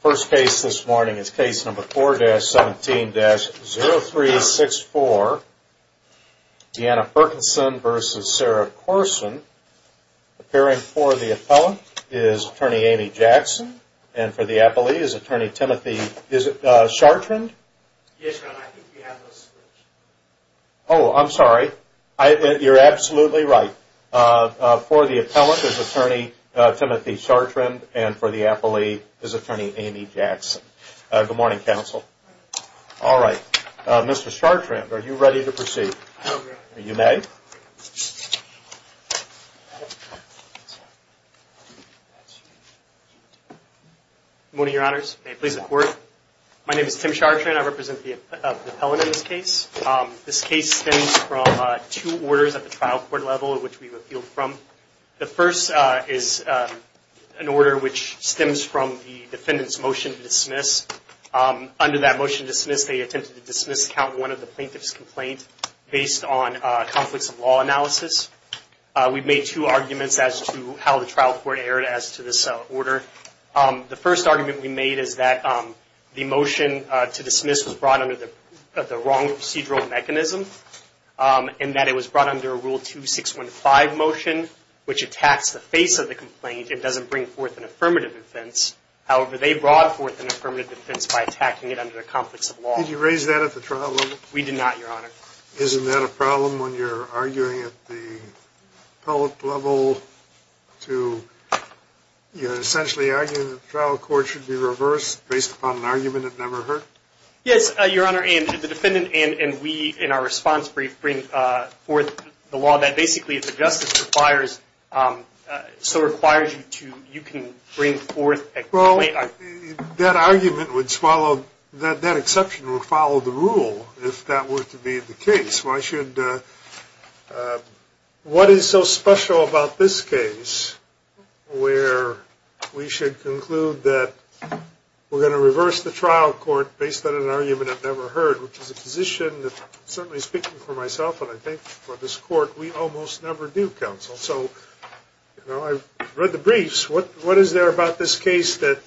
First case this morning is case number 4-17-0364, Deanna Perkinson v. Sarah Courson. Appearing for the appellant is attorney Amy Jackson and for the appellee is attorney Timothy Chartrand. Yes, I think we have a switch. Oh, I'm sorry. You're absolutely right. For the appellant is attorney Timothy Chartrand and for the appellee is attorney Amy Jackson. Good morning, counsel. All right. Mr. Chartrand, are you ready to proceed? I am ready. You may. Good morning, Your Honors. May it please the Court. My name is Tim Chartrand. I represent the appellant in this case. This case stems from two orders at the trial court level, which we've appealed from. The first is an order which stems from the defendant's motion to dismiss. Under that motion to dismiss, they attempted to dismiss count one of the plaintiff's complaints based on conflicts of law analysis. We've made two arguments as to how the trial court erred as to this order. The first argument we made is that the motion to dismiss was brought under the wrong procedural mechanism and that it was brought under a Rule 2615 motion, which attacks the face of the complaint. It doesn't bring forth an affirmative defense. However, they brought forth an affirmative defense by attacking it under the conflicts of law. Did you raise that at the trial level? We did not, Your Honor. Isn't that a problem when you're arguing at the appellate level? You're essentially arguing that the trial court should be reversed based upon an argument that never occurred? Yes, Your Honor, and the defendant and we in our response bring forth the law that basically, if the justice requires, so requires you to, you can bring forth a complaint. That argument would swallow, that exception would follow the rule if that were to be the case. Why should, what is so special about this case where we should conclude that we're going to reverse the trial court based on an argument I've never heard, which is a position that, certainly speaking for myself and I think for this court, we almost never do, counsel. I've read the briefs. What is there about this case that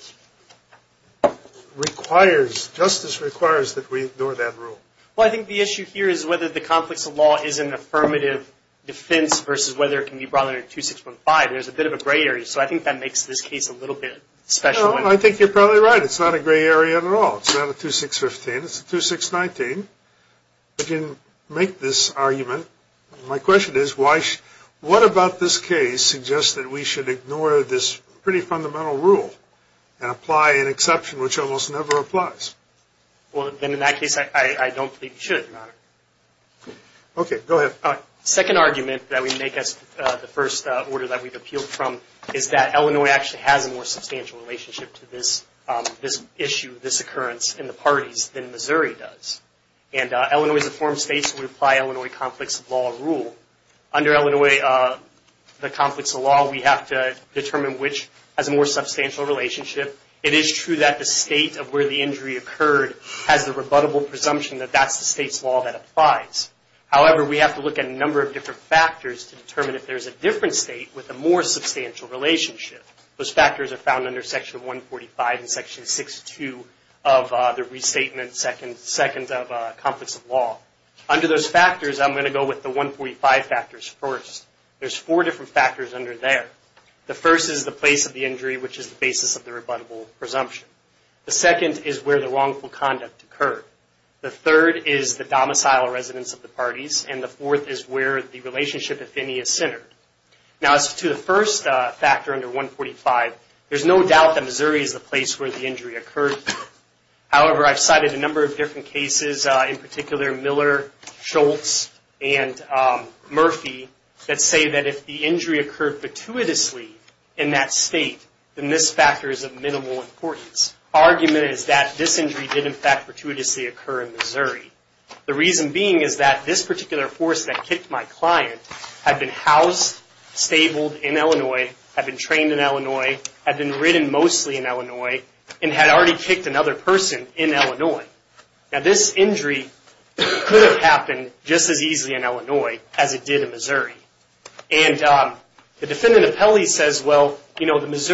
requires, justice requires that we ignore that rule? Well, I think the issue here is whether the conflicts of law is an affirmative defense versus whether it can be brought under 2615. There's a bit of a gray area, so I think that makes this case a little bit special. I think you're probably right. It's not a gray area at all. It's not a 2615. It's a 2619. I didn't make this argument. My question is, what about this case suggests that we should ignore this pretty fundamental rule and apply an exception which almost never applies? Well, then in that case, I don't think you should, Your Honor. Okay. Go ahead. Second argument that we make as the first order that we've appealed from is that Illinois actually has a more And Illinois is a foreign state, so we apply Illinois conflicts of law rule. Under Illinois, the conflicts of law, we have to determine which has a more substantial relationship. It is true that the state of where the injury occurred has the rebuttable presumption that that's the state's law that applies. However, we have to look at a number of different factors to determine if there's a different state with a more substantial relationship. Those factors are found under Section 145 and Section 62 of the Restatement Seconds of Conflicts of Law. Under those factors, I'm going to go with the 145 factors first. There's four different factors under there. The first is the place of the injury, which is the basis of the rebuttable presumption. The second is where the wrongful conduct occurred. The third is the domicile residence of the parties. And the fourth is where the relationship, if any, is centered. Now, as to the first factor under 145, there's no doubt that Missouri is the place where the injury occurred. However, I've cited a number of different cases, in particular Miller, Schultz, and Murphy, that say that if the injury occurred fortuitously in that state, then this factor is of minimal importance. The argument is that this injury did, in fact, fortuitously occur in Missouri. The reason being is that this particular force that kicked my client had been housed, stabled in Illinois, had been trained in Illinois, had been ridden mostly in Illinois, and had already kicked another person in Illinois. Now, this injury could have happened just as easily in Illinois as it did in Missouri. And the defendant appellee says, well, you know, this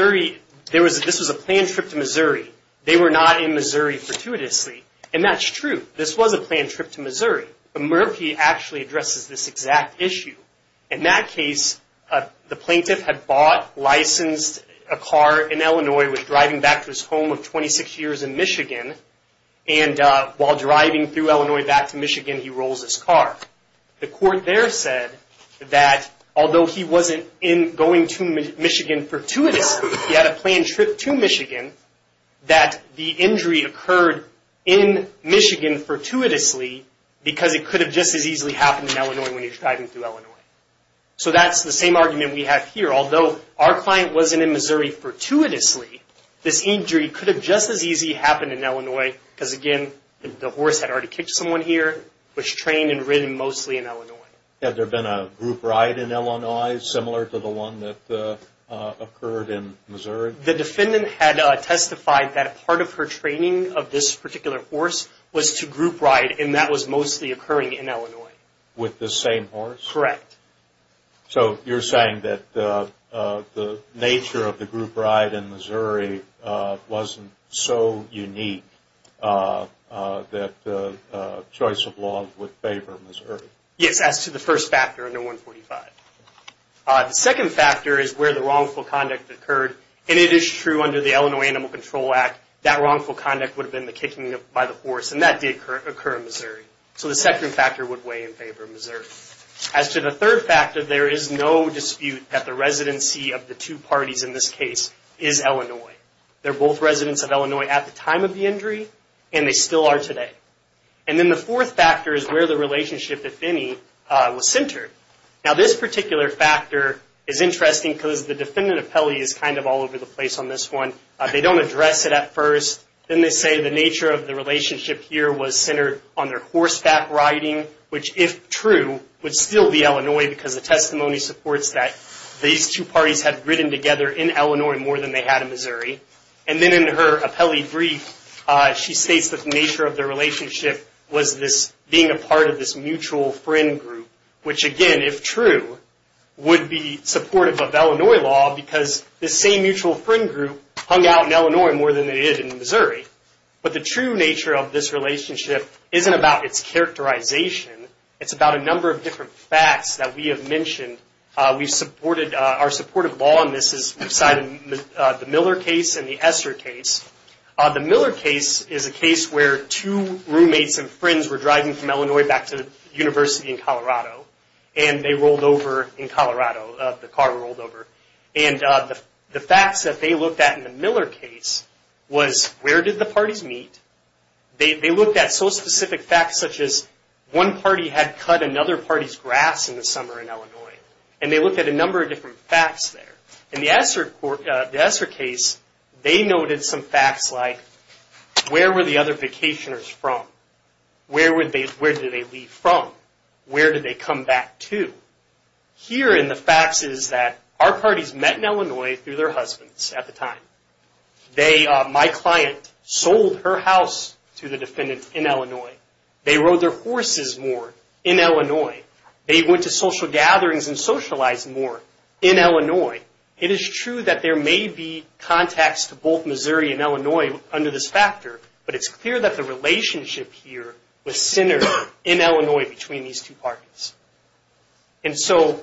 was a planned trip to Missouri. They were not in Missouri fortuitously. And that's true. This was a planned trip to Missouri. Murphy actually addresses this exact issue. In that case, the plaintiff had bought, licensed a car in Illinois, was driving back to his home of 26 years in Michigan. And while driving through Illinois back to Michigan, he rolls his car. The court there said that although he wasn't going to Michigan fortuitously, he had a planned trip to Michigan, that the injury occurred in Michigan fortuitously because it could have just as easily happened in Illinois when he was driving through Illinois. So that's the same argument we have here. Although our client wasn't in Missouri fortuitously, this injury could have just as easily happened in Illinois because, again, the horse had already kicked someone here, was trained and ridden mostly in Illinois. Had there been a group ride in Illinois similar to the one that occurred in Missouri? The defendant had testified that part of her training of this particular horse was to group ride, and that was mostly occurring in Illinois. With the same horse? Correct. So you're saying that the nature of the group ride in Missouri wasn't so unique that the choice of law would favor Missouri? Yes, as to the first factor under 145. The second factor is where the wrongful conduct occurred, and it is true under the Illinois Animal Control Act that wrongful conduct would have been the kicking by the horse, and that did occur in Missouri. So the second factor would weigh in favor of Missouri. As to the third factor, there is no dispute that the residency of the two parties in this case is Illinois. They're both residents of Illinois at the time of the injury, and they still are today. And then the fourth factor is where the relationship, if any, was centered. Now this particular factor is interesting because the defendant appellee is kind of all over the place on this one. They don't address it at first. Then they say the nature of the relationship here was centered on their horseback riding, which, if true, would still be Illinois because the testimony supports that these two parties had ridden together in Illinois more than they had in Missouri. And then in her appellee brief, she states that the nature of their relationship was being a part of this mutual friend group, which, again, if true, would be supportive of Illinois law because this same mutual friend group hung out in Illinois more than they did in Missouri. But the true nature of this relationship isn't about its characterization. It's about a number of different facts that we have mentioned. Our supportive law on this is the Miller case and the Esser case. The Miller case is a case where two roommates and friends were driving from Illinois back to university in Colorado, and they rolled over in Colorado, the car rolled over. And the facts that they looked at in the Miller case was where did the parties meet? They looked at so specific facts such as one party had cut another party's grass in the summer in Illinois, and they looked at a number of different facts there. In the Esser case, they noted some facts like where were the other vacationers from? Where did they leave from? Where did they come back to? Here in the facts is that our parties met in Illinois through their husbands at the time. My client sold her house to the defendant in Illinois. They rode their horses more in Illinois. They went to social gatherings and socialized more in Illinois. It is true that there may be contacts to both Missouri and Illinois under this factor, but it's clear that the relationship here was centered in Illinois between these two parties. And so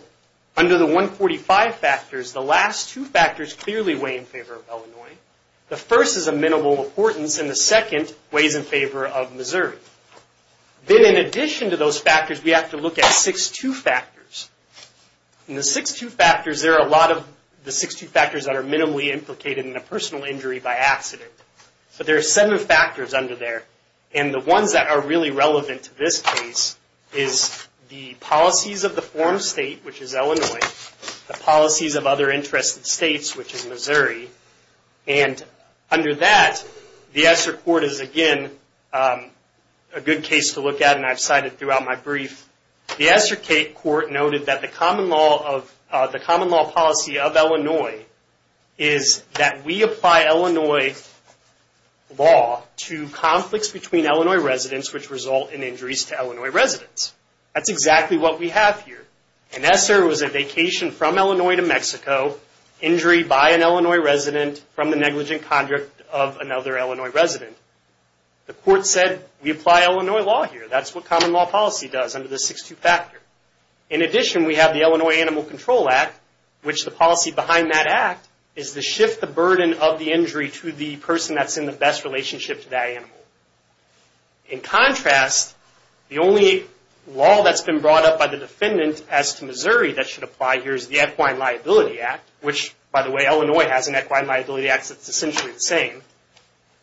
under the 145 factors, the last two factors clearly weigh in favor of Illinois. The first is of minimal importance, and the second weighs in favor of Missouri. Then in addition to those factors, we have to look at 6-2 factors. In the 6-2 factors, there are a lot of the 6-2 factors that are minimally implicated in a personal injury by accident. But there are seven factors under there, and the ones that are really relevant to this case is the policies of the form state, which is Illinois, the policies of other interested states, which is Missouri. And under that, the ESSER court is again a good case to look at, and I've cited throughout my brief. The ESSER court noted that the common law policy of Illinois is that we apply Illinois law to conflicts between Illinois residents which result in injuries to Illinois residents. That's exactly what we have here. An ESSER was a vacation from Illinois to Mexico, injury by an Illinois resident from the negligent conduct of another Illinois resident. The court said we apply Illinois law here. That's what common law policy does under the 6-2 factor. In addition, we have the Illinois Animal Control Act, which the policy behind that act is to shift the burden of the injury to the person that's in the best relationship to that animal. In contrast, the only law that's been brought up by the defendant as to Missouri that should apply here is the Equine Liability Act, which, by the way, Illinois has an Equine Liability Act that's essentially the same.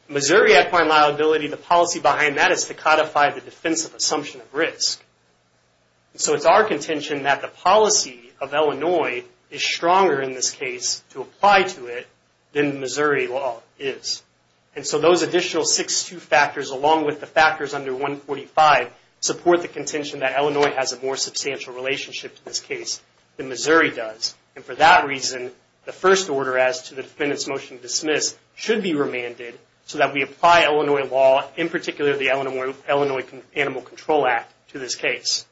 Missouri Equine Liability, the policy behind that is to codify the defensive assumption of risk. It's our contention that the policy of Illinois is stronger in this case to apply to it than Missouri law is. Those additional 6-2 factors, along with the factors under 145, support the contention that Illinois has a more substantial relationship to this case than Missouri does. For that reason, the first order as to the defendant's motion to dismiss should be remanded so that we apply Illinois law, in particular the Illinois Animal Control Act, to this case.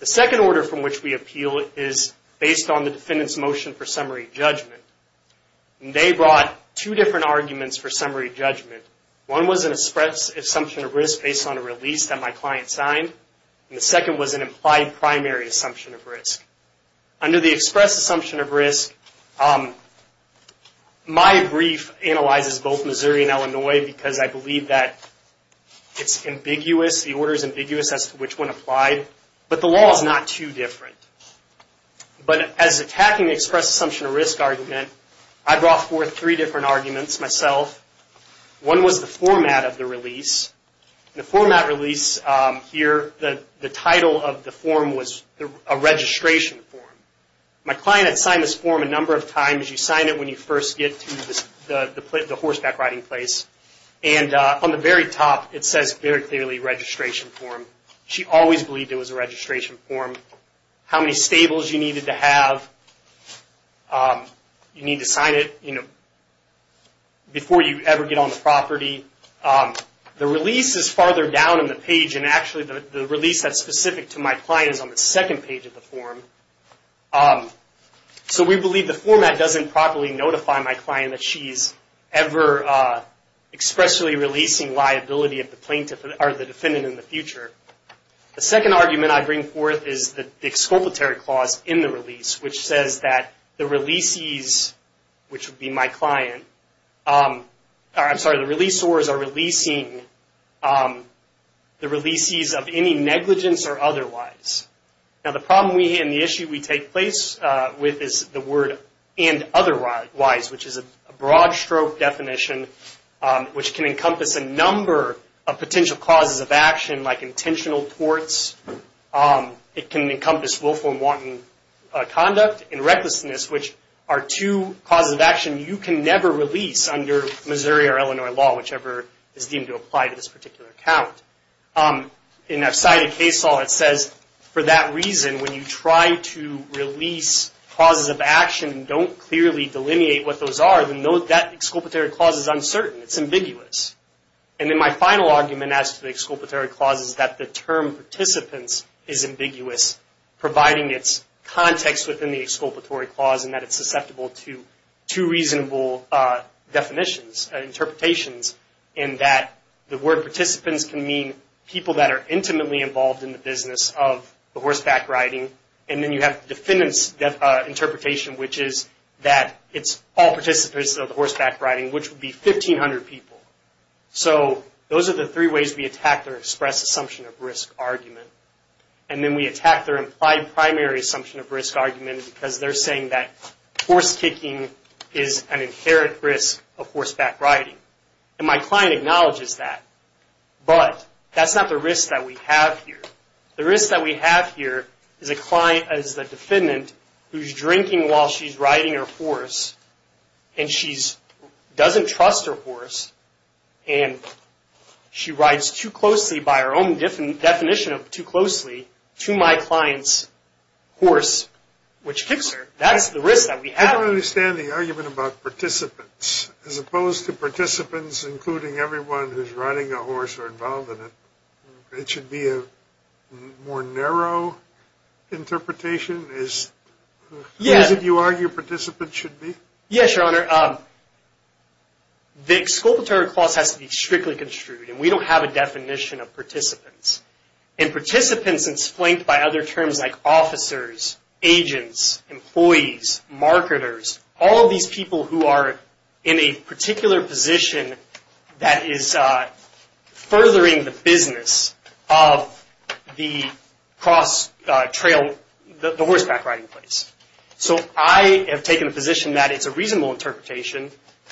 The second order from which we appeal is based on the defendant's motion for summary judgment. They brought two different arguments for summary judgment. One was an express assumption of risk based on a release that my client signed, and the second was an implied primary assumption of risk. Under the express assumption of risk, my brief analyzes both Missouri and Illinois because I believe that it's ambiguous, the order is ambiguous as to which one applied, but the law is not too different. But as attacking the express assumption of risk argument, I brought forth three different arguments myself. One was the format of the release. The format release here, the title of the form was a registration form. My client had signed this form a number of times. You sign it when you first get to the horseback riding place, and on the very top it says very clearly, registration form. She always believed it was a registration form. How many stables you needed to have, you need to sign it before you ever get on the property. The release is farther down on the page, and actually the release that's specific to my client is on the second page of the form. So we believe the format doesn't properly notify my client that she's ever expressly releasing liability of the defendant in the future. The second argument I bring forth is the exculpatory clause in the release, which says that the releasees, which would be my client, I'm sorry, the releaseors are releasing the releasees of any negligence or otherwise. Now the problem we have and the issue we take place with is the word and otherwise, which is a broad-stroke definition, which can encompass a number of potential causes of action, like intentional torts. It can encompass willful and wanton conduct, and recklessness, which are two causes of action you can never release under Missouri or Illinois law, whichever is deemed to apply to this particular account. In our cited case law, it says for that reason, when you try to release causes of action and don't clearly delineate what those are, then that exculpatory clause is uncertain. It's ambiguous. And then my final argument as to the exculpatory clause is that the term participants is ambiguous, providing its context within the exculpatory clause, and that it's susceptible to two reasonable definitions, interpretations, in that the word participants can mean people that are intimately involved in the business of horseback riding. And then you have the defendant's interpretation, which is that it's all participants of horseback riding, which would be 1,500 people. So those are the three ways we attack their express assumption of risk argument. And then we attack their implied primary assumption of risk argument because they're saying that horse kicking is an inherent risk of horseback riding. And my client acknowledges that, but that's not the risk that we have here. The risk that we have here is a client as the defendant who's drinking while she's riding her horse, and she doesn't trust her horse, and she rides too closely, by her own definition of too closely, to my client's horse, which kicks her. That's the risk that we have. I don't understand the argument about participants. As opposed to participants including everyone who's riding a horse or involved in it, it should be a more narrow interpretation? As you argue participants should be? Yes, Your Honor. The exculpatory clause has to be strictly construed, and we don't have a definition of participants. And participants is flanked by other terms like officers, agents, employees, marketers, all these people who are in a particular position that is furthering the business of the cross-trail, the horseback riding place. So I have taken a position that it's a reasonable interpretation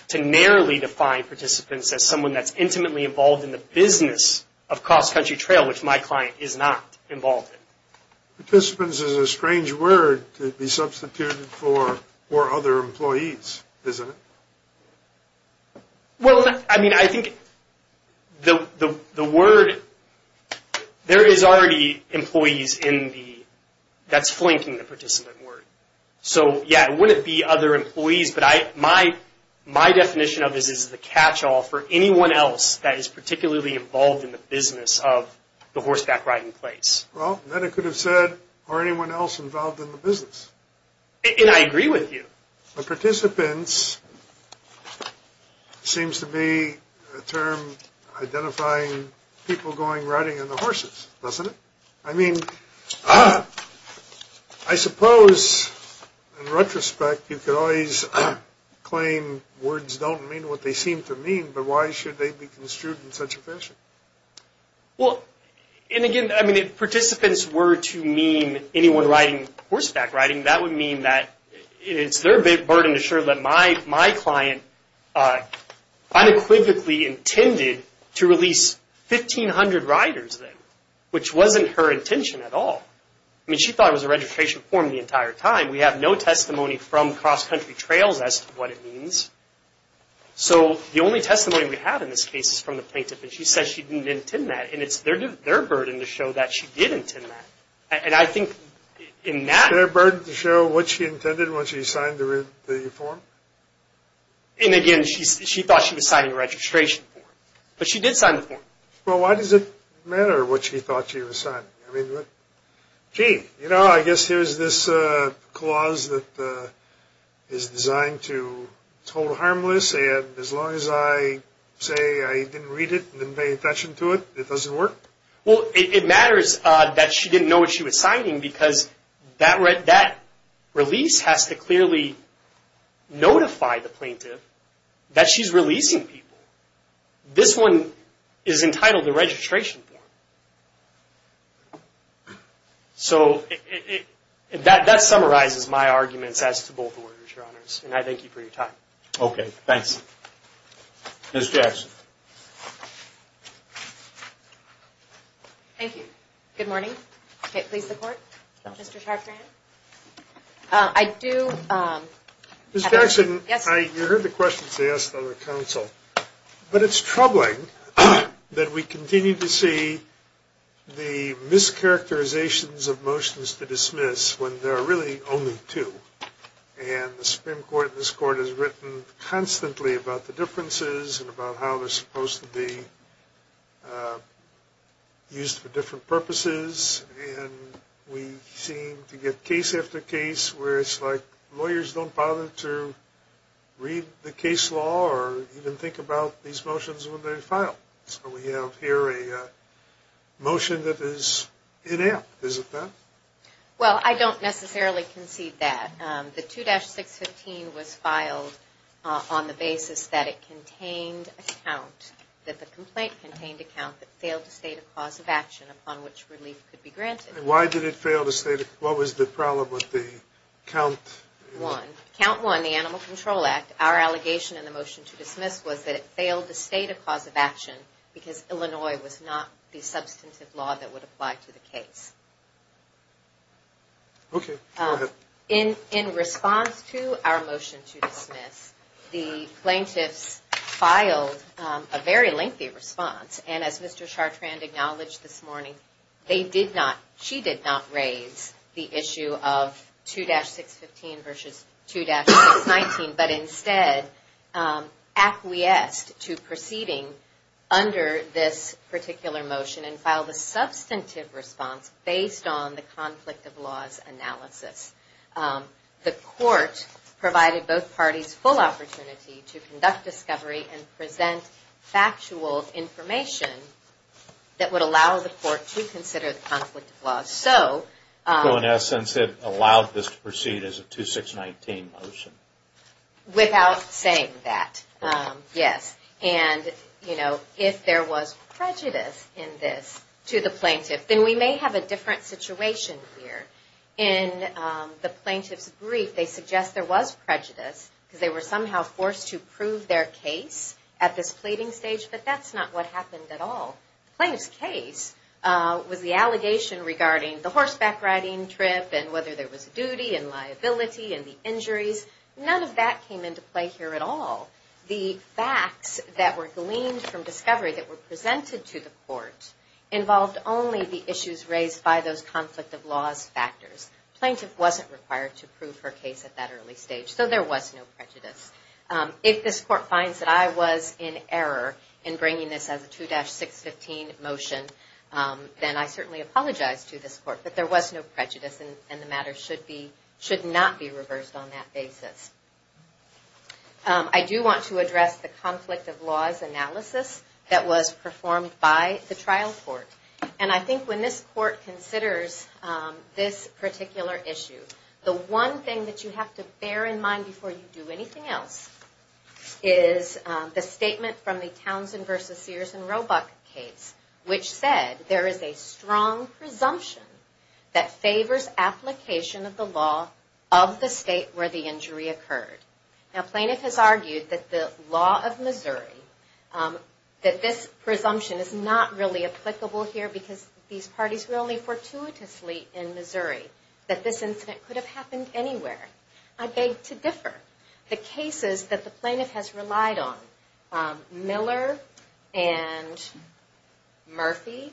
to narrowly define participants as someone that's intimately involved in the business of cross-country trail, which my client is not involved in. Participants is a strange word to be substituted for other employees, isn't it? Well, I mean, I think the word, there is already employees in the, that's flanking the participant word. So, yeah, it wouldn't be other employees, but my definition of this is the catch-all for anyone else that is particularly involved in the business of the horseback riding place. Well, then it could have said, are anyone else involved in the business? And I agree with you. But participants seems to be a term identifying people going riding on the horses, doesn't it? I mean, I suppose, in retrospect, you could always claim words don't mean what they seem to mean, but why should they be construed in such a fashion? Well, and again, I mean, if participants were to mean anyone riding horseback riding, that would mean that it's their burden to show that my client unequivocally intended to release 1,500 riders then, which wasn't her intention at all. I mean, she thought it was a registration form the entire time. We have no testimony from cross-country trails as to what it means. So the only testimony we have in this case is from the plaintiff, and she said she didn't intend that, and it's their burden to show that she did intend that. It's their burden to show what she intended when she signed the form? And again, she thought she was signing a registration form, but she did sign the form. Well, why does it matter what she thought she was signing? I mean, gee, you know, I guess here's this clause that is designed to hold harmless, and as long as I say I didn't read it and didn't pay attention to it, it doesn't work? Well, it matters that she didn't know what she was signing because that release has to clearly notify the plaintiff that she's releasing people. This one is entitled the registration form. So that summarizes my arguments as to both orders, Your Honors, and I thank you for your time. Okay, thanks. Ms. Jackson. Thank you. Good morning. Okay, please support Mr. Chartrand. I do have a question. Ms. Jackson, you heard the questions asked on the counsel, but it's troubling that we continue to see the mischaracterizations of motions to dismiss when there are really only two, and the Supreme Court and this Court has written constantly about the differences and about how they're supposed to be used for different purposes, and we seem to get case after case where it's like lawyers don't bother to read the case law or even think about these motions when they file. So we have here a motion that is inept, is it not? Well, I don't necessarily concede that. The 2-615 was filed on the basis that it contained a count, that the complaint contained a count that failed to state a cause of action upon which relief could be granted. Why did it fail to state it? What was the problem with the count? Count one, the Animal Control Act, our allegation in the motion to dismiss was that it failed to state a cause of action because Illinois was not the substantive law that would apply to the case. Okay, go ahead. In response to our motion to dismiss, the plaintiffs filed a very lengthy response, and as Mr. Chartrand acknowledged this morning, they did not, she did not raise the issue of 2-615 versus 2-619, but instead acquiesced to proceeding under this particular motion and filed a substantive response based on the conflict of laws analysis. The court provided both parties full opportunity to conduct discovery and present factual information that would allow the court to consider the conflict of laws. So, in essence, it allowed this to proceed as a 2-619 motion? Without saying that, yes. And, you know, if there was prejudice in this to the plaintiff, then we may have a different situation here. In the plaintiff's brief, they suggest there was prejudice because they were somehow forced to prove their case at this pleading stage, but that's not what happened at all. The plaintiff's case was the allegation regarding the horseback riding trip and whether there was a duty and liability and the injuries. None of that came into play here at all. The facts that were gleaned from discovery that were presented to the court involved only the issues raised by those conflict of laws factors. The plaintiff wasn't required to prove her case at that early stage, so there was no prejudice. If this court finds that I was in error in bringing this as a 2-615 motion, then I certainly apologize to this court, but there was no prejudice and the matter should not be reversed on that basis. I do want to address the conflict of laws analysis that was performed by the trial court. And I think when this court considers this particular issue, the one thing that you have to bear in mind before you do anything else is the statement from the Townsend v. Sears and Roebuck case, which said there is a strong presumption that favors application of the law of the state where the injury occurred. Now plaintiff has argued that the law of Missouri, that this presumption is not really applicable here because these parties were only fortuitously in Missouri, that this incident could have happened anywhere. I beg to differ. The cases that the plaintiff has relied on, Miller and Murphy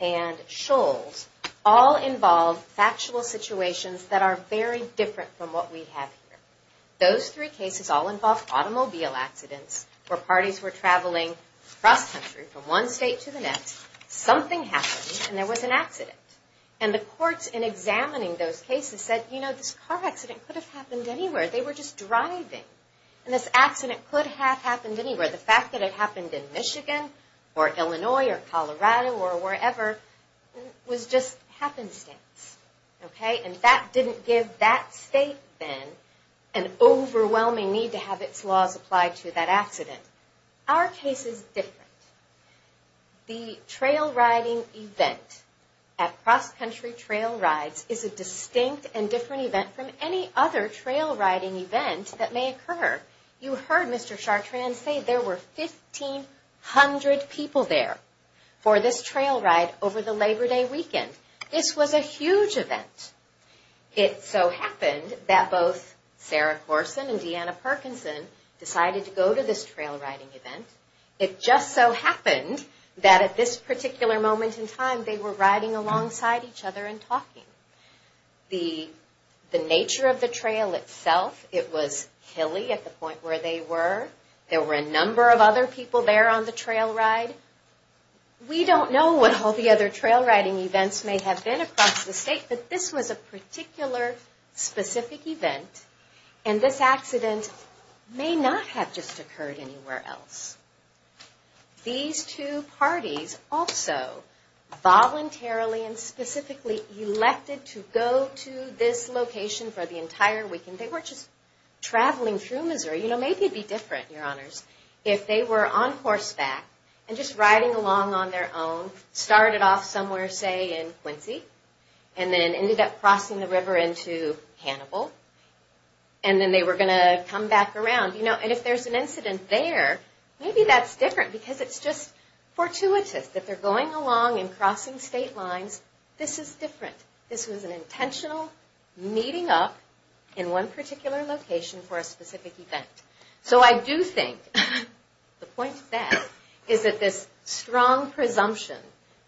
and Scholes, all involve factual situations that are very different from what we have here. Those three cases all involve automobile accidents where parties were traveling across country from one state to the next, something happened, and there was an accident. And the courts in examining those cases said, you know, this car accident could have happened anywhere. They were just driving. And this accident could have happened anywhere. The fact that it happened in Michigan or Illinois or Colorado or wherever was just happenstance. And that didn't give that state then an overwhelming need to have its laws applied to that accident. Our case is different. The trail riding event at Cross Country Trail Rides is a distinct and different event from any other trail riding event that may occur. You heard Mr. Chartrand say there were 1,500 people there for this trail ride over the Labor Day weekend. This was a huge event. It so happened that both Sarah Corson and Deanna Perkinson decided to go to this trail riding event. It just so happened that at this particular moment in time they were riding alongside each other and talking. The nature of the trail itself, it was hilly at the point where they were. There were a number of other people there on the trail ride. We don't know what all the other trail riding events may have been across the state, but this was a particular specific event, and this accident may not have just occurred anywhere else. These two parties also voluntarily and specifically elected to go to this location for the entire weekend. They weren't just traveling through Missouri. You know, maybe it would be different, Your Honors, if they were on horseback and just riding along on their own, started off somewhere, say, in Quincy, and then ended up crossing the river into Hannibal, and then they were going to come back around. If there's an incident there, maybe that's different because it's just fortuitous that they're going along and crossing state lines. This is different. This was an intentional meeting up in one particular location for a specific event. So I do think the point of that is that this strong presumption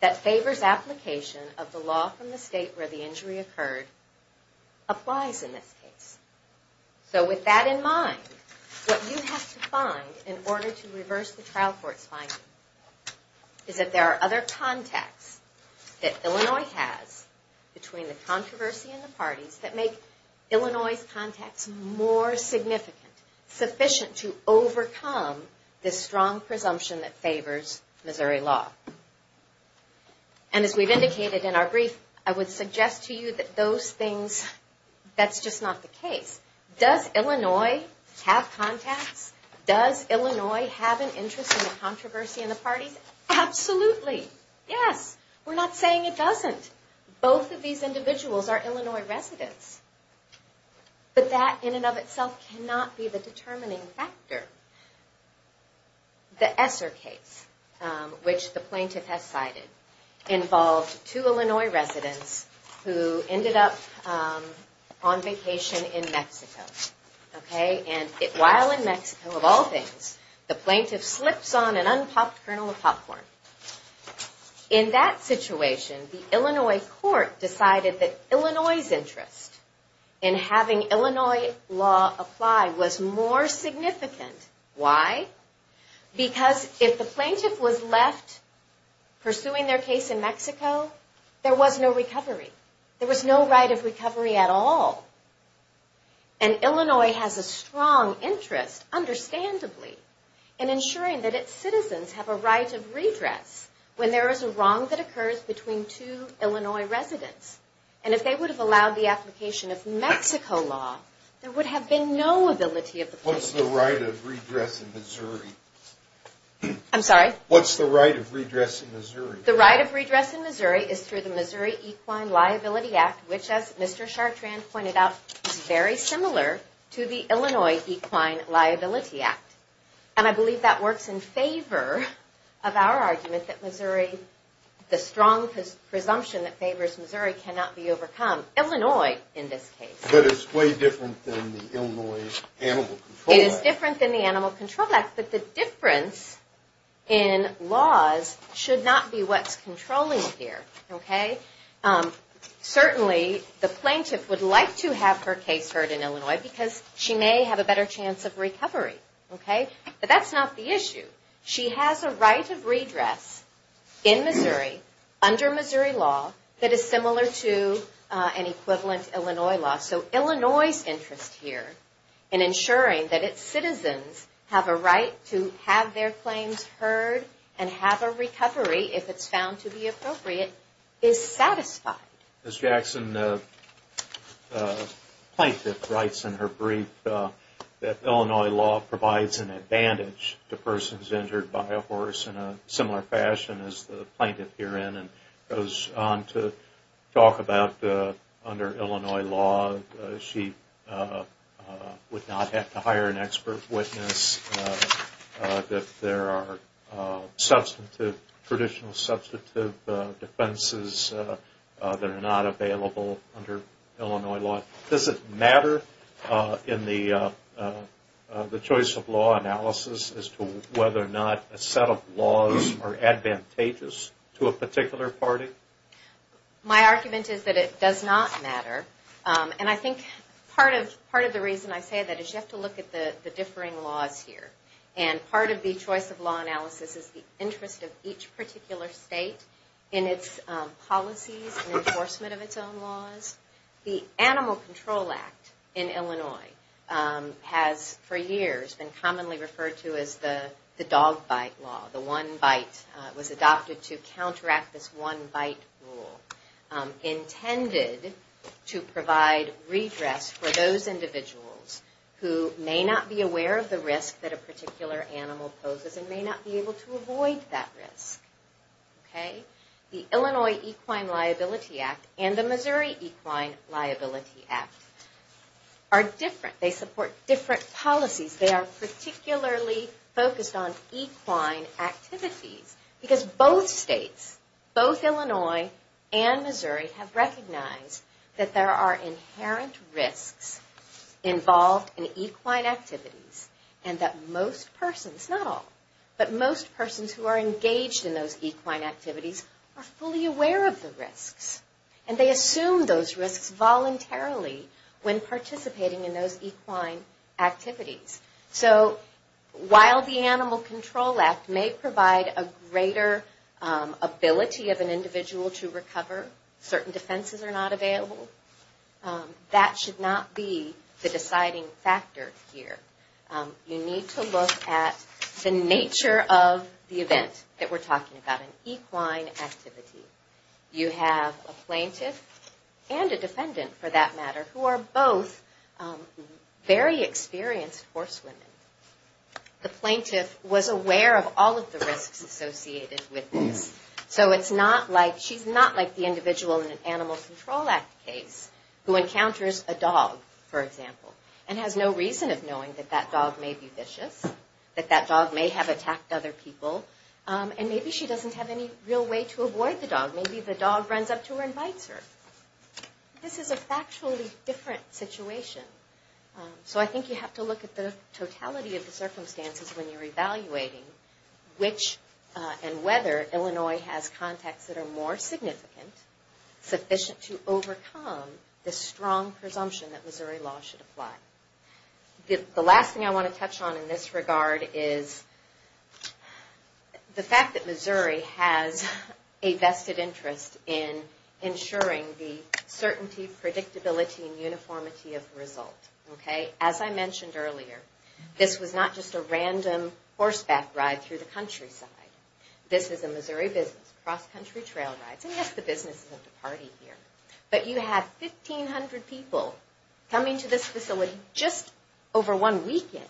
that favors application of the law from the state where the injury occurred applies in this case. So with that in mind, what you have to find in order to reverse the trial court's finding is that there are other contexts that Illinois has between the controversy and the parties that make Illinois' context more significant, sufficient to overcome this strong presumption that favors Missouri law. And as we've indicated in our brief, I would suggest to you that those things, that's just not the case. Does Illinois have contacts? Does Illinois have an interest in the controversy and the parties? Absolutely. Yes. We're not saying it doesn't. Both of these individuals are Illinois residents. But that in and of itself cannot be the determining factor. The Esser case, which the plaintiff has cited, involved two Illinois residents who ended up on vacation in Mexico. And while in Mexico, of all things, the plaintiff slips on an unpopped kernel of popcorn. In that situation, the Illinois court decided that Illinois' interest in having Illinois law apply was more significant. Why? Because if the plaintiff was left pursuing their case in Mexico, there was no recovery. There was no right of recovery at all. And Illinois has a strong interest, understandably, in ensuring that its citizens have a right of redress when there is a wrong that occurs between two Illinois residents. And if they would have allowed the application of Mexico law, there would have been no ability of the plaintiff. What's the right of redress in Missouri? I'm sorry? What's the right of redress in Missouri? The right of redress in Missouri is through the Missouri Equine Liability Act, which, as Mr. Chartrand pointed out, is very similar to the Illinois Equine Liability Act. And I believe that works in favor of our argument that Missouri, the strong presumption that favors Missouri, cannot be overcome. Illinois, in this case. But it's way different than the Illinois Animal Control Act. It is different than the Animal Control Act, but the difference in laws should not be what's controlling here. Certainly, the plaintiff would like to have her case heard in Illinois because she may have a better chance of recovery. But that's not the issue. She has a right of redress in Missouri, under Missouri law, that is similar to an equivalent Illinois law. So Illinois' interest here in ensuring that its citizens have a right to have their claims heard and have a recovery, if it's found to be appropriate, is satisfied. Ms. Jackson, the plaintiff writes in her brief that Illinois law provides an advantage to persons injured by a horse in a similar fashion as the plaintiff here in goes on to talk about under Illinois law she would not have to hire an expert witness if there are traditional substantive defenses that are not available under Illinois law. Does it matter in the choice of law analysis as to whether or not a set of laws are advantageous to a particular party? My argument is that it does not matter. And I think part of the reason I say that is you have to look at the differing laws here. And part of the choice of law analysis is the interest of each particular state in its policies and enforcement of its own laws. The Animal Control Act in Illinois has for years been commonly referred to as the dog bite law. The one bite was adopted to counteract this one bite rule intended to provide redress for those individuals who may not be aware of the risk that a particular animal poses and may not be able to avoid that risk. The Illinois Equine Liability Act and the Missouri Equine Liability Act are different. They support different policies. They are particularly focused on equine activities because both states, both Illinois and Missouri have recognized that there are inherent risks involved in equine activities and that most persons, not all, but most persons who are engaged in those equine activities are fully aware of the risks. And they assume those risks voluntarily when participating in those equine activities. So while the Animal Control Act may provide a greater ability of an individual to recover, certain defenses are not available, that should not be the deciding factor here. You need to look at the nature of the event that we're talking about, an equine activity. You have a plaintiff and a defendant, for that matter, who are both very experienced horsewomen. The plaintiff was aware of all of the risks associated with this. So it's not like, she's not like the individual in an Animal Control Act case who encounters a dog, for example, and has no reason of knowing that that dog may be vicious, that that dog may have attacked other people, and maybe she doesn't have any real way to avoid the dog. Maybe the dog runs up to her and bites her. This is a factually different situation. So I think you have to look at the totality of the circumstances when you're evaluating which and whether Illinois has contacts that are more significant, sufficient to overcome the strong presumption that Missouri law should apply. The last thing I want to touch on in this regard is the fact that Missouri has a vested interest in ensuring the certainty, predictability, and uniformity of the result. As I mentioned earlier, this was not just a random horseback ride through the countryside. This is a Missouri business, cross-country trail rides. And yes, the businesses have to party here. But you have 1,500 people coming to this facility just over one weekend,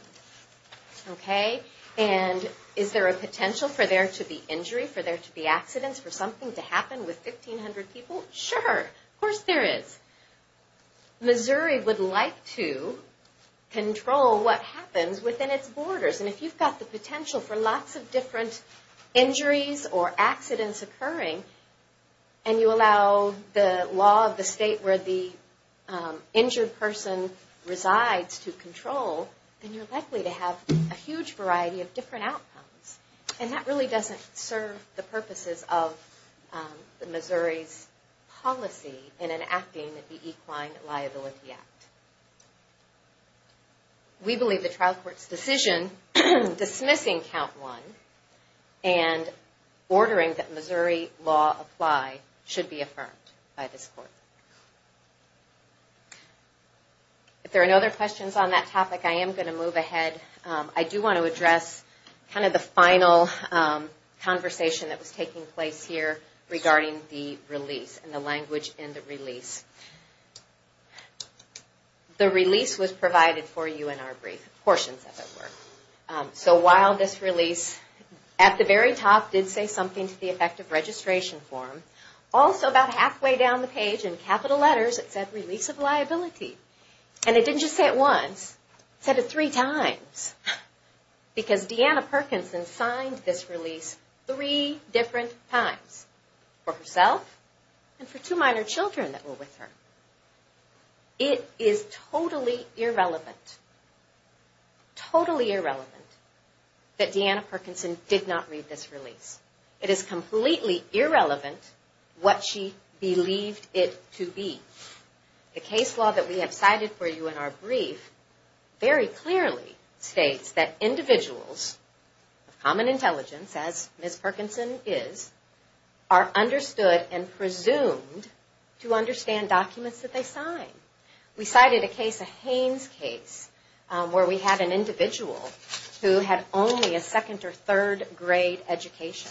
okay? And is there a potential for there to be injury, for there to be accidents, for something to happen with 1,500 people? Sure. Of course there is. Missouri would like to control what happens within its borders. And if you've got the potential for lots of different injuries or accidents occurring and you allow the law of the state where the injured person resides to control, then you're likely to have a huge variety of different outcomes. And that really doesn't serve the purposes of Missouri's policy in enacting the Equine Liability Act. We believe the trial court's decision dismissing Count 1 and ordering that Missouri law apply should be affirmed by this court. If there are no other questions on that topic, I am going to move ahead. I do want to address kind of the final conversation that was taking place here regarding the release and the language in the release. The release was provided for you in our brief, portions of it were. So while this release at the very top did say something to the effect of registration form, also about halfway down the page in capital letters it said release of liability. And it didn't just say it once. It said it three times. Because Deanna Perkinson signed this release three different times. For herself and for two minor children that were with her. It is totally irrelevant, totally irrelevant that Deanna Perkinson did not read this release. It is completely irrelevant what she believed it to be. The case law that we have cited for you in our brief very clearly states that individuals of common intelligence, as Ms. Perkinson is, are understood and presumed to understand documents that they sign. We cited a case, a Haynes case, where we had an individual who had only a second or third grade education.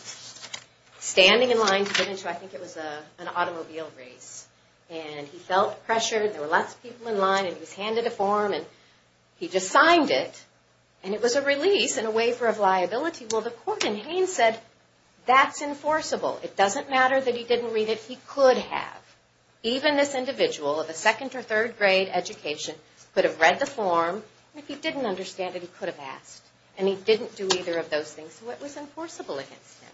Standing in line to get into, I think it was an automobile race. And he felt pressured. There were lots of people in line. And he was handed a form and he just signed it. And it was a release and a waiver of liability. Well, the court in Haynes said that's enforceable. It doesn't matter that he didn't read it. He could have. Even this individual of a second or third grade education could have read the form. If he didn't understand it, he could have asked. And he didn't do either of those things. So it was enforceable against him.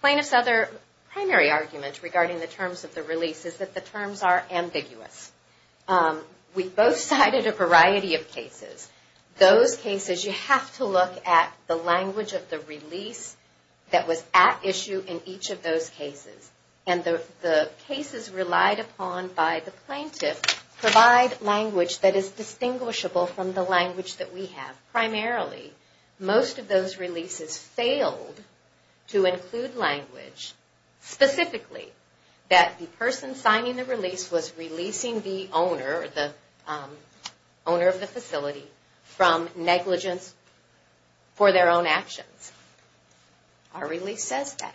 Plaintiff's other primary argument regarding the terms of the release is that the terms are ambiguous. We both cited a variety of cases. Those cases, you have to look at the language of the release that was at issue in each of those cases. And the cases relied upon by the plaintiff provide language that is distinguishable from the language that we have. Primarily, most of those releases failed to include language specifically that the person signing the release was releasing the owner of the facility from negligence for their own actions. Our release says that.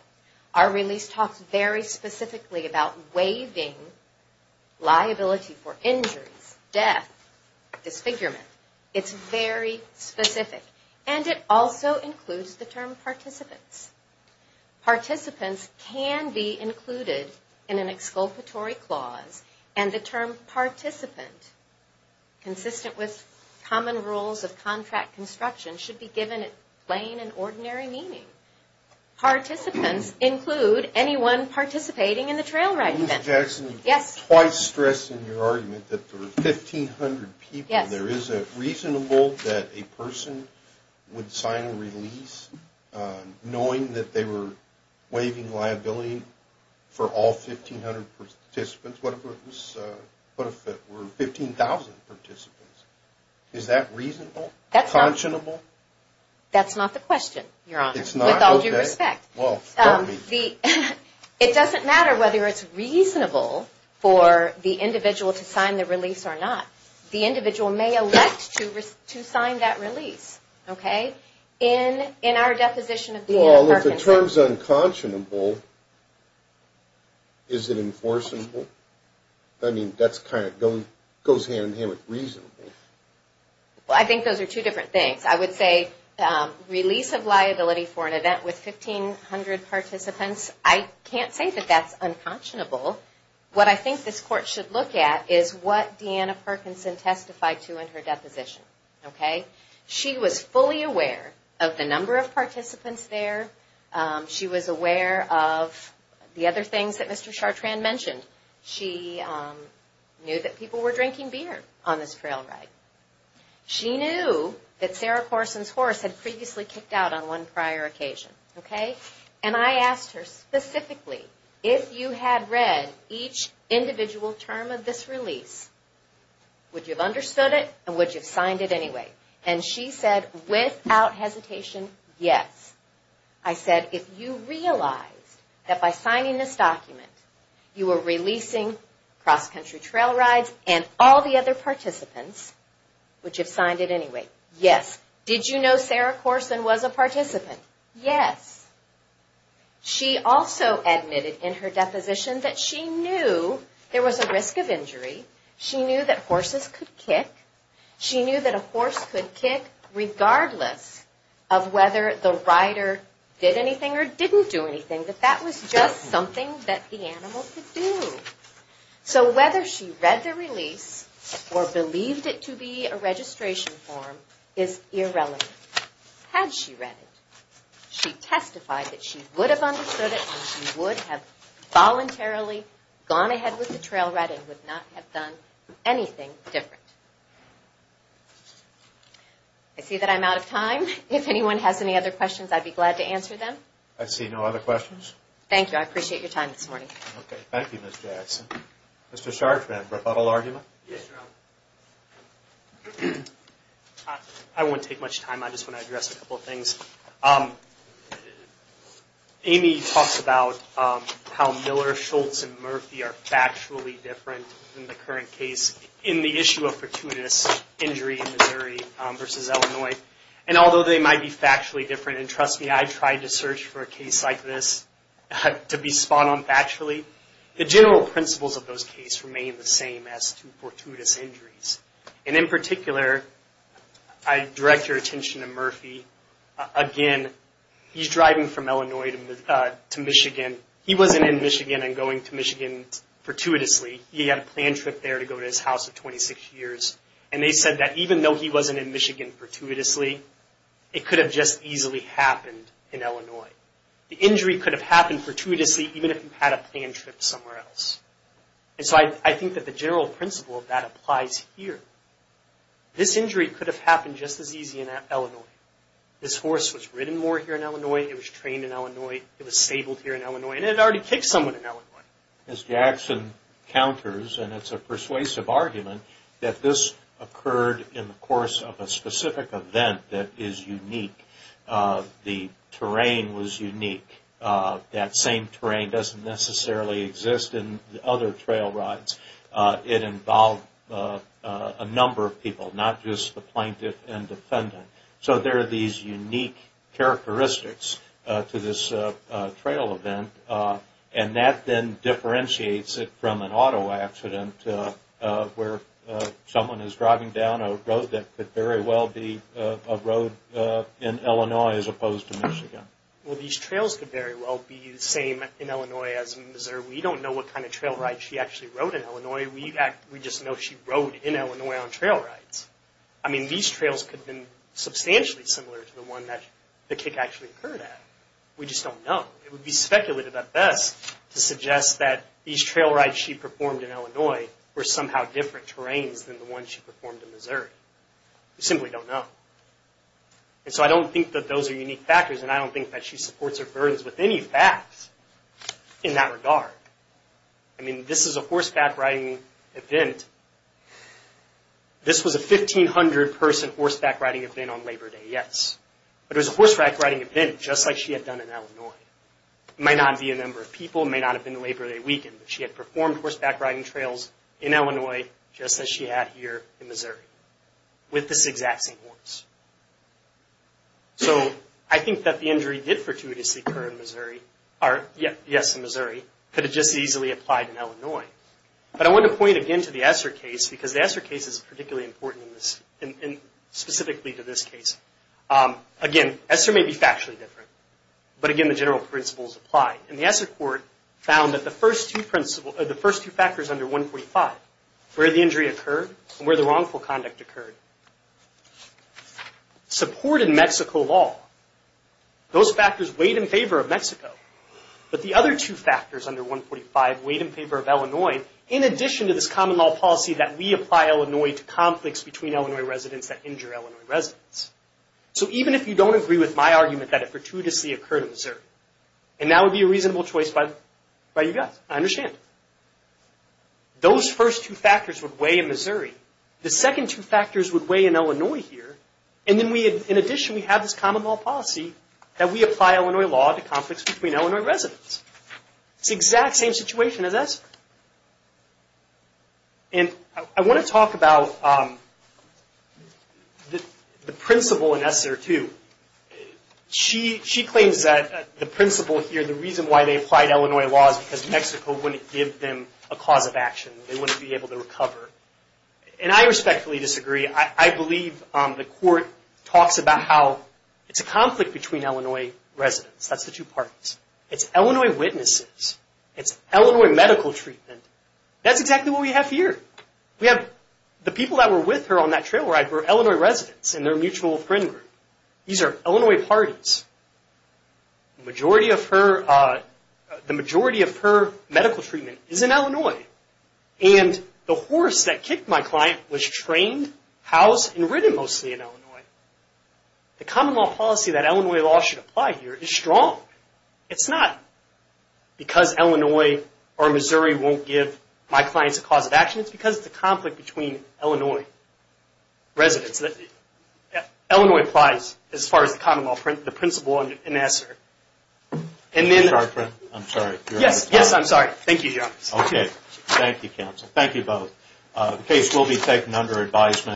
Our release talks very specifically about waiving liability for injuries, death, disfigurement. It's very specific. And it also includes the term participants. Participants can be included in an exculpatory clause. And the term participant, consistent with common rules of contract construction, should be given a plain and ordinary meaning. Participants include anyone participating in the trail ride event. Ms. Jackson, you twice stressed in your argument that there were 1,500 people. There is it reasonable that a person would sign a release knowing that they were waiving liability for all 1,500 participants? What if it were 15,000 participants? Is that reasonable? Conscionable? That's not the question, Your Honor. It's not? Okay. With all due respect. Well, pardon me. It doesn't matter whether it's reasonable for the individual to sign the release or not. The individual may elect to sign that release. Okay? In our deposition of Deanna Parkinson. Well, if the term's unconscionable, is it enforceable? I mean, that goes hand in hand with reasonable. Well, I think those are two different things. I would say release of liability for an event with 1,500 participants, I can't say that that's unconscionable. What I think this Court should look at is what Deanna Parkinson testified to in her deposition. Okay? She was fully aware of the number of participants there. She was aware of the other things that Mr. Chartrand mentioned. She knew that people were drinking beer on this trail ride. She knew that Sarah Corson's horse had previously kicked out on one prior occasion. Okay? And I asked her specifically, if you had read each individual term of this release, would you have understood it and would you have signed it anyway? And she said, without hesitation, yes. I said, if you realized that by signing this document you were releasing cross-country trail rides and all the other participants, would you have signed it anyway? Yes. Did you know Sarah Corson was a participant? Yes. She also admitted in her deposition that she knew there was a risk of injury. She knew that horses could kick. She knew that a horse could kick regardless of whether the rider did anything or didn't do anything, that that was just something that the animal could do. So whether she read the release or believed it to be a registration form is irrelevant. Had she read it, she testified that she would have understood it and she would have voluntarily gone ahead with the trail ride and would not have done anything different. I see that I'm out of time. If anyone has any other questions, I'd be glad to answer them. I see no other questions. Thank you. I appreciate your time this morning. Okay. Thank you, Ms. Jackson. Mr. Chartrand, rebuttal argument? Yes, Your Honor. I won't take much time. I just want to address a couple of things. Amy talks about how Miller, Schultz, and Murphy are factually different in the current case in the issue of fortuitous injury in Missouri versus Illinois. And although they might be factually different, and trust me, I tried to search for a case like this to be spot on factually, the general principles of those cases remain the same as to fortuitous injuries. And in particular, I direct your attention to Murphy. Again, he's driving from Illinois to Michigan. He wasn't in Michigan and going to Michigan fortuitously. He had a planned trip there to go to his house of 26 years. And they said that even though he wasn't in Michigan fortuitously, it could have just easily happened in Illinois. The injury could have happened fortuitously even if he had a planned trip somewhere else. And so I think that the general principle of that applies here. This injury could have happened just as easy in Illinois. This horse was ridden more here in Illinois. It was trained in Illinois. It was stabled here in Illinois. And it had already kicked someone in Illinois. Ms. Jackson counters, and it's a persuasive argument, that this occurred in the course of a specific event that is unique. The terrain was unique. That same terrain doesn't necessarily exist in other trail rides. It involved a number of people, not just the plaintiff and defendant. So there are these unique characteristics to this trail event. And that then differentiates it from an auto accident where someone is driving down a road that could very well be a road in Illinois as opposed to Michigan. Well, these trails could very well be the same in Illinois as in Missouri. We don't know what kind of trail ride she actually rode in Illinois. We just know she rode in Illinois on trail rides. I mean, these trails could have been substantially similar to the one that the kick actually occurred at. We just don't know. It would be speculative at best to suggest that these trail rides she performed in Illinois were somehow different terrains than the ones she performed in Missouri. We simply don't know. And so I don't think that those are unique factors, and I don't think that she supports her burdens with any facts in that regard. I mean, this is a horseback riding event. This was a 1,500-person horseback riding event on Labor Day, yes. But it was a horseback riding event just like she had done in Illinois. It might not be a number of people. It may not have been Labor Day weekend, but she had performed horseback riding trails in Illinois just as she had here in Missouri with this exact same horse. So I think that the injury did fortuitously occur in Missouri, or yes, in Missouri, but it just easily applied in Illinois. But I want to point again to the Esser case because the Esser case is particularly important specifically to this case. Again, Esser may be factually different, but again, the general principles apply. And the Esser court found that the first two factors under 145, where the injury occurred and where the wrongful conduct occurred, supported Mexico law. Those factors weighed in favor of Mexico. But the other two factors under 145 weighed in favor of Illinois in addition to this common law policy that we apply Illinois to conflicts between Illinois residents that injure Illinois residents. So even if you don't agree with my argument that it fortuitously occurred in Missouri, and that would be a reasonable choice by you guys. I understand. Those first two factors would weigh in Missouri. The second two factors would weigh in Illinois here. And in addition, we have this common law policy that we apply Illinois law to conflicts between Illinois residents. It's the exact same situation as Esser. And I want to talk about the principle in Esser too. She claims that the principle here, the reason why they applied Illinois law is because Mexico wouldn't give them a cause of action. They wouldn't be able to recover. And I respectfully disagree. I believe the court talks about how it's a conflict between Illinois residents. That's the two parties. It's Illinois witnesses. It's Illinois medical treatment. That's exactly what we have here. We have the people that were with her on that trail ride were Illinois residents and their mutual friend group. These are Illinois parties. The majority of her medical treatment is in Illinois. And the horse that kicked my client was trained, housed, and ridden mostly in Illinois. The common law policy that Illinois law should apply here is strong. It's not because Illinois or Missouri won't give my clients a cause of action. It's because it's a conflict between Illinois residents. Illinois applies as far as the common law principle in Esser. I'm sorry. Yes, I'm sorry. Thank you, Your Honor. Okay. Thank you, counsel. Thank you both. The case will be taken under advisement.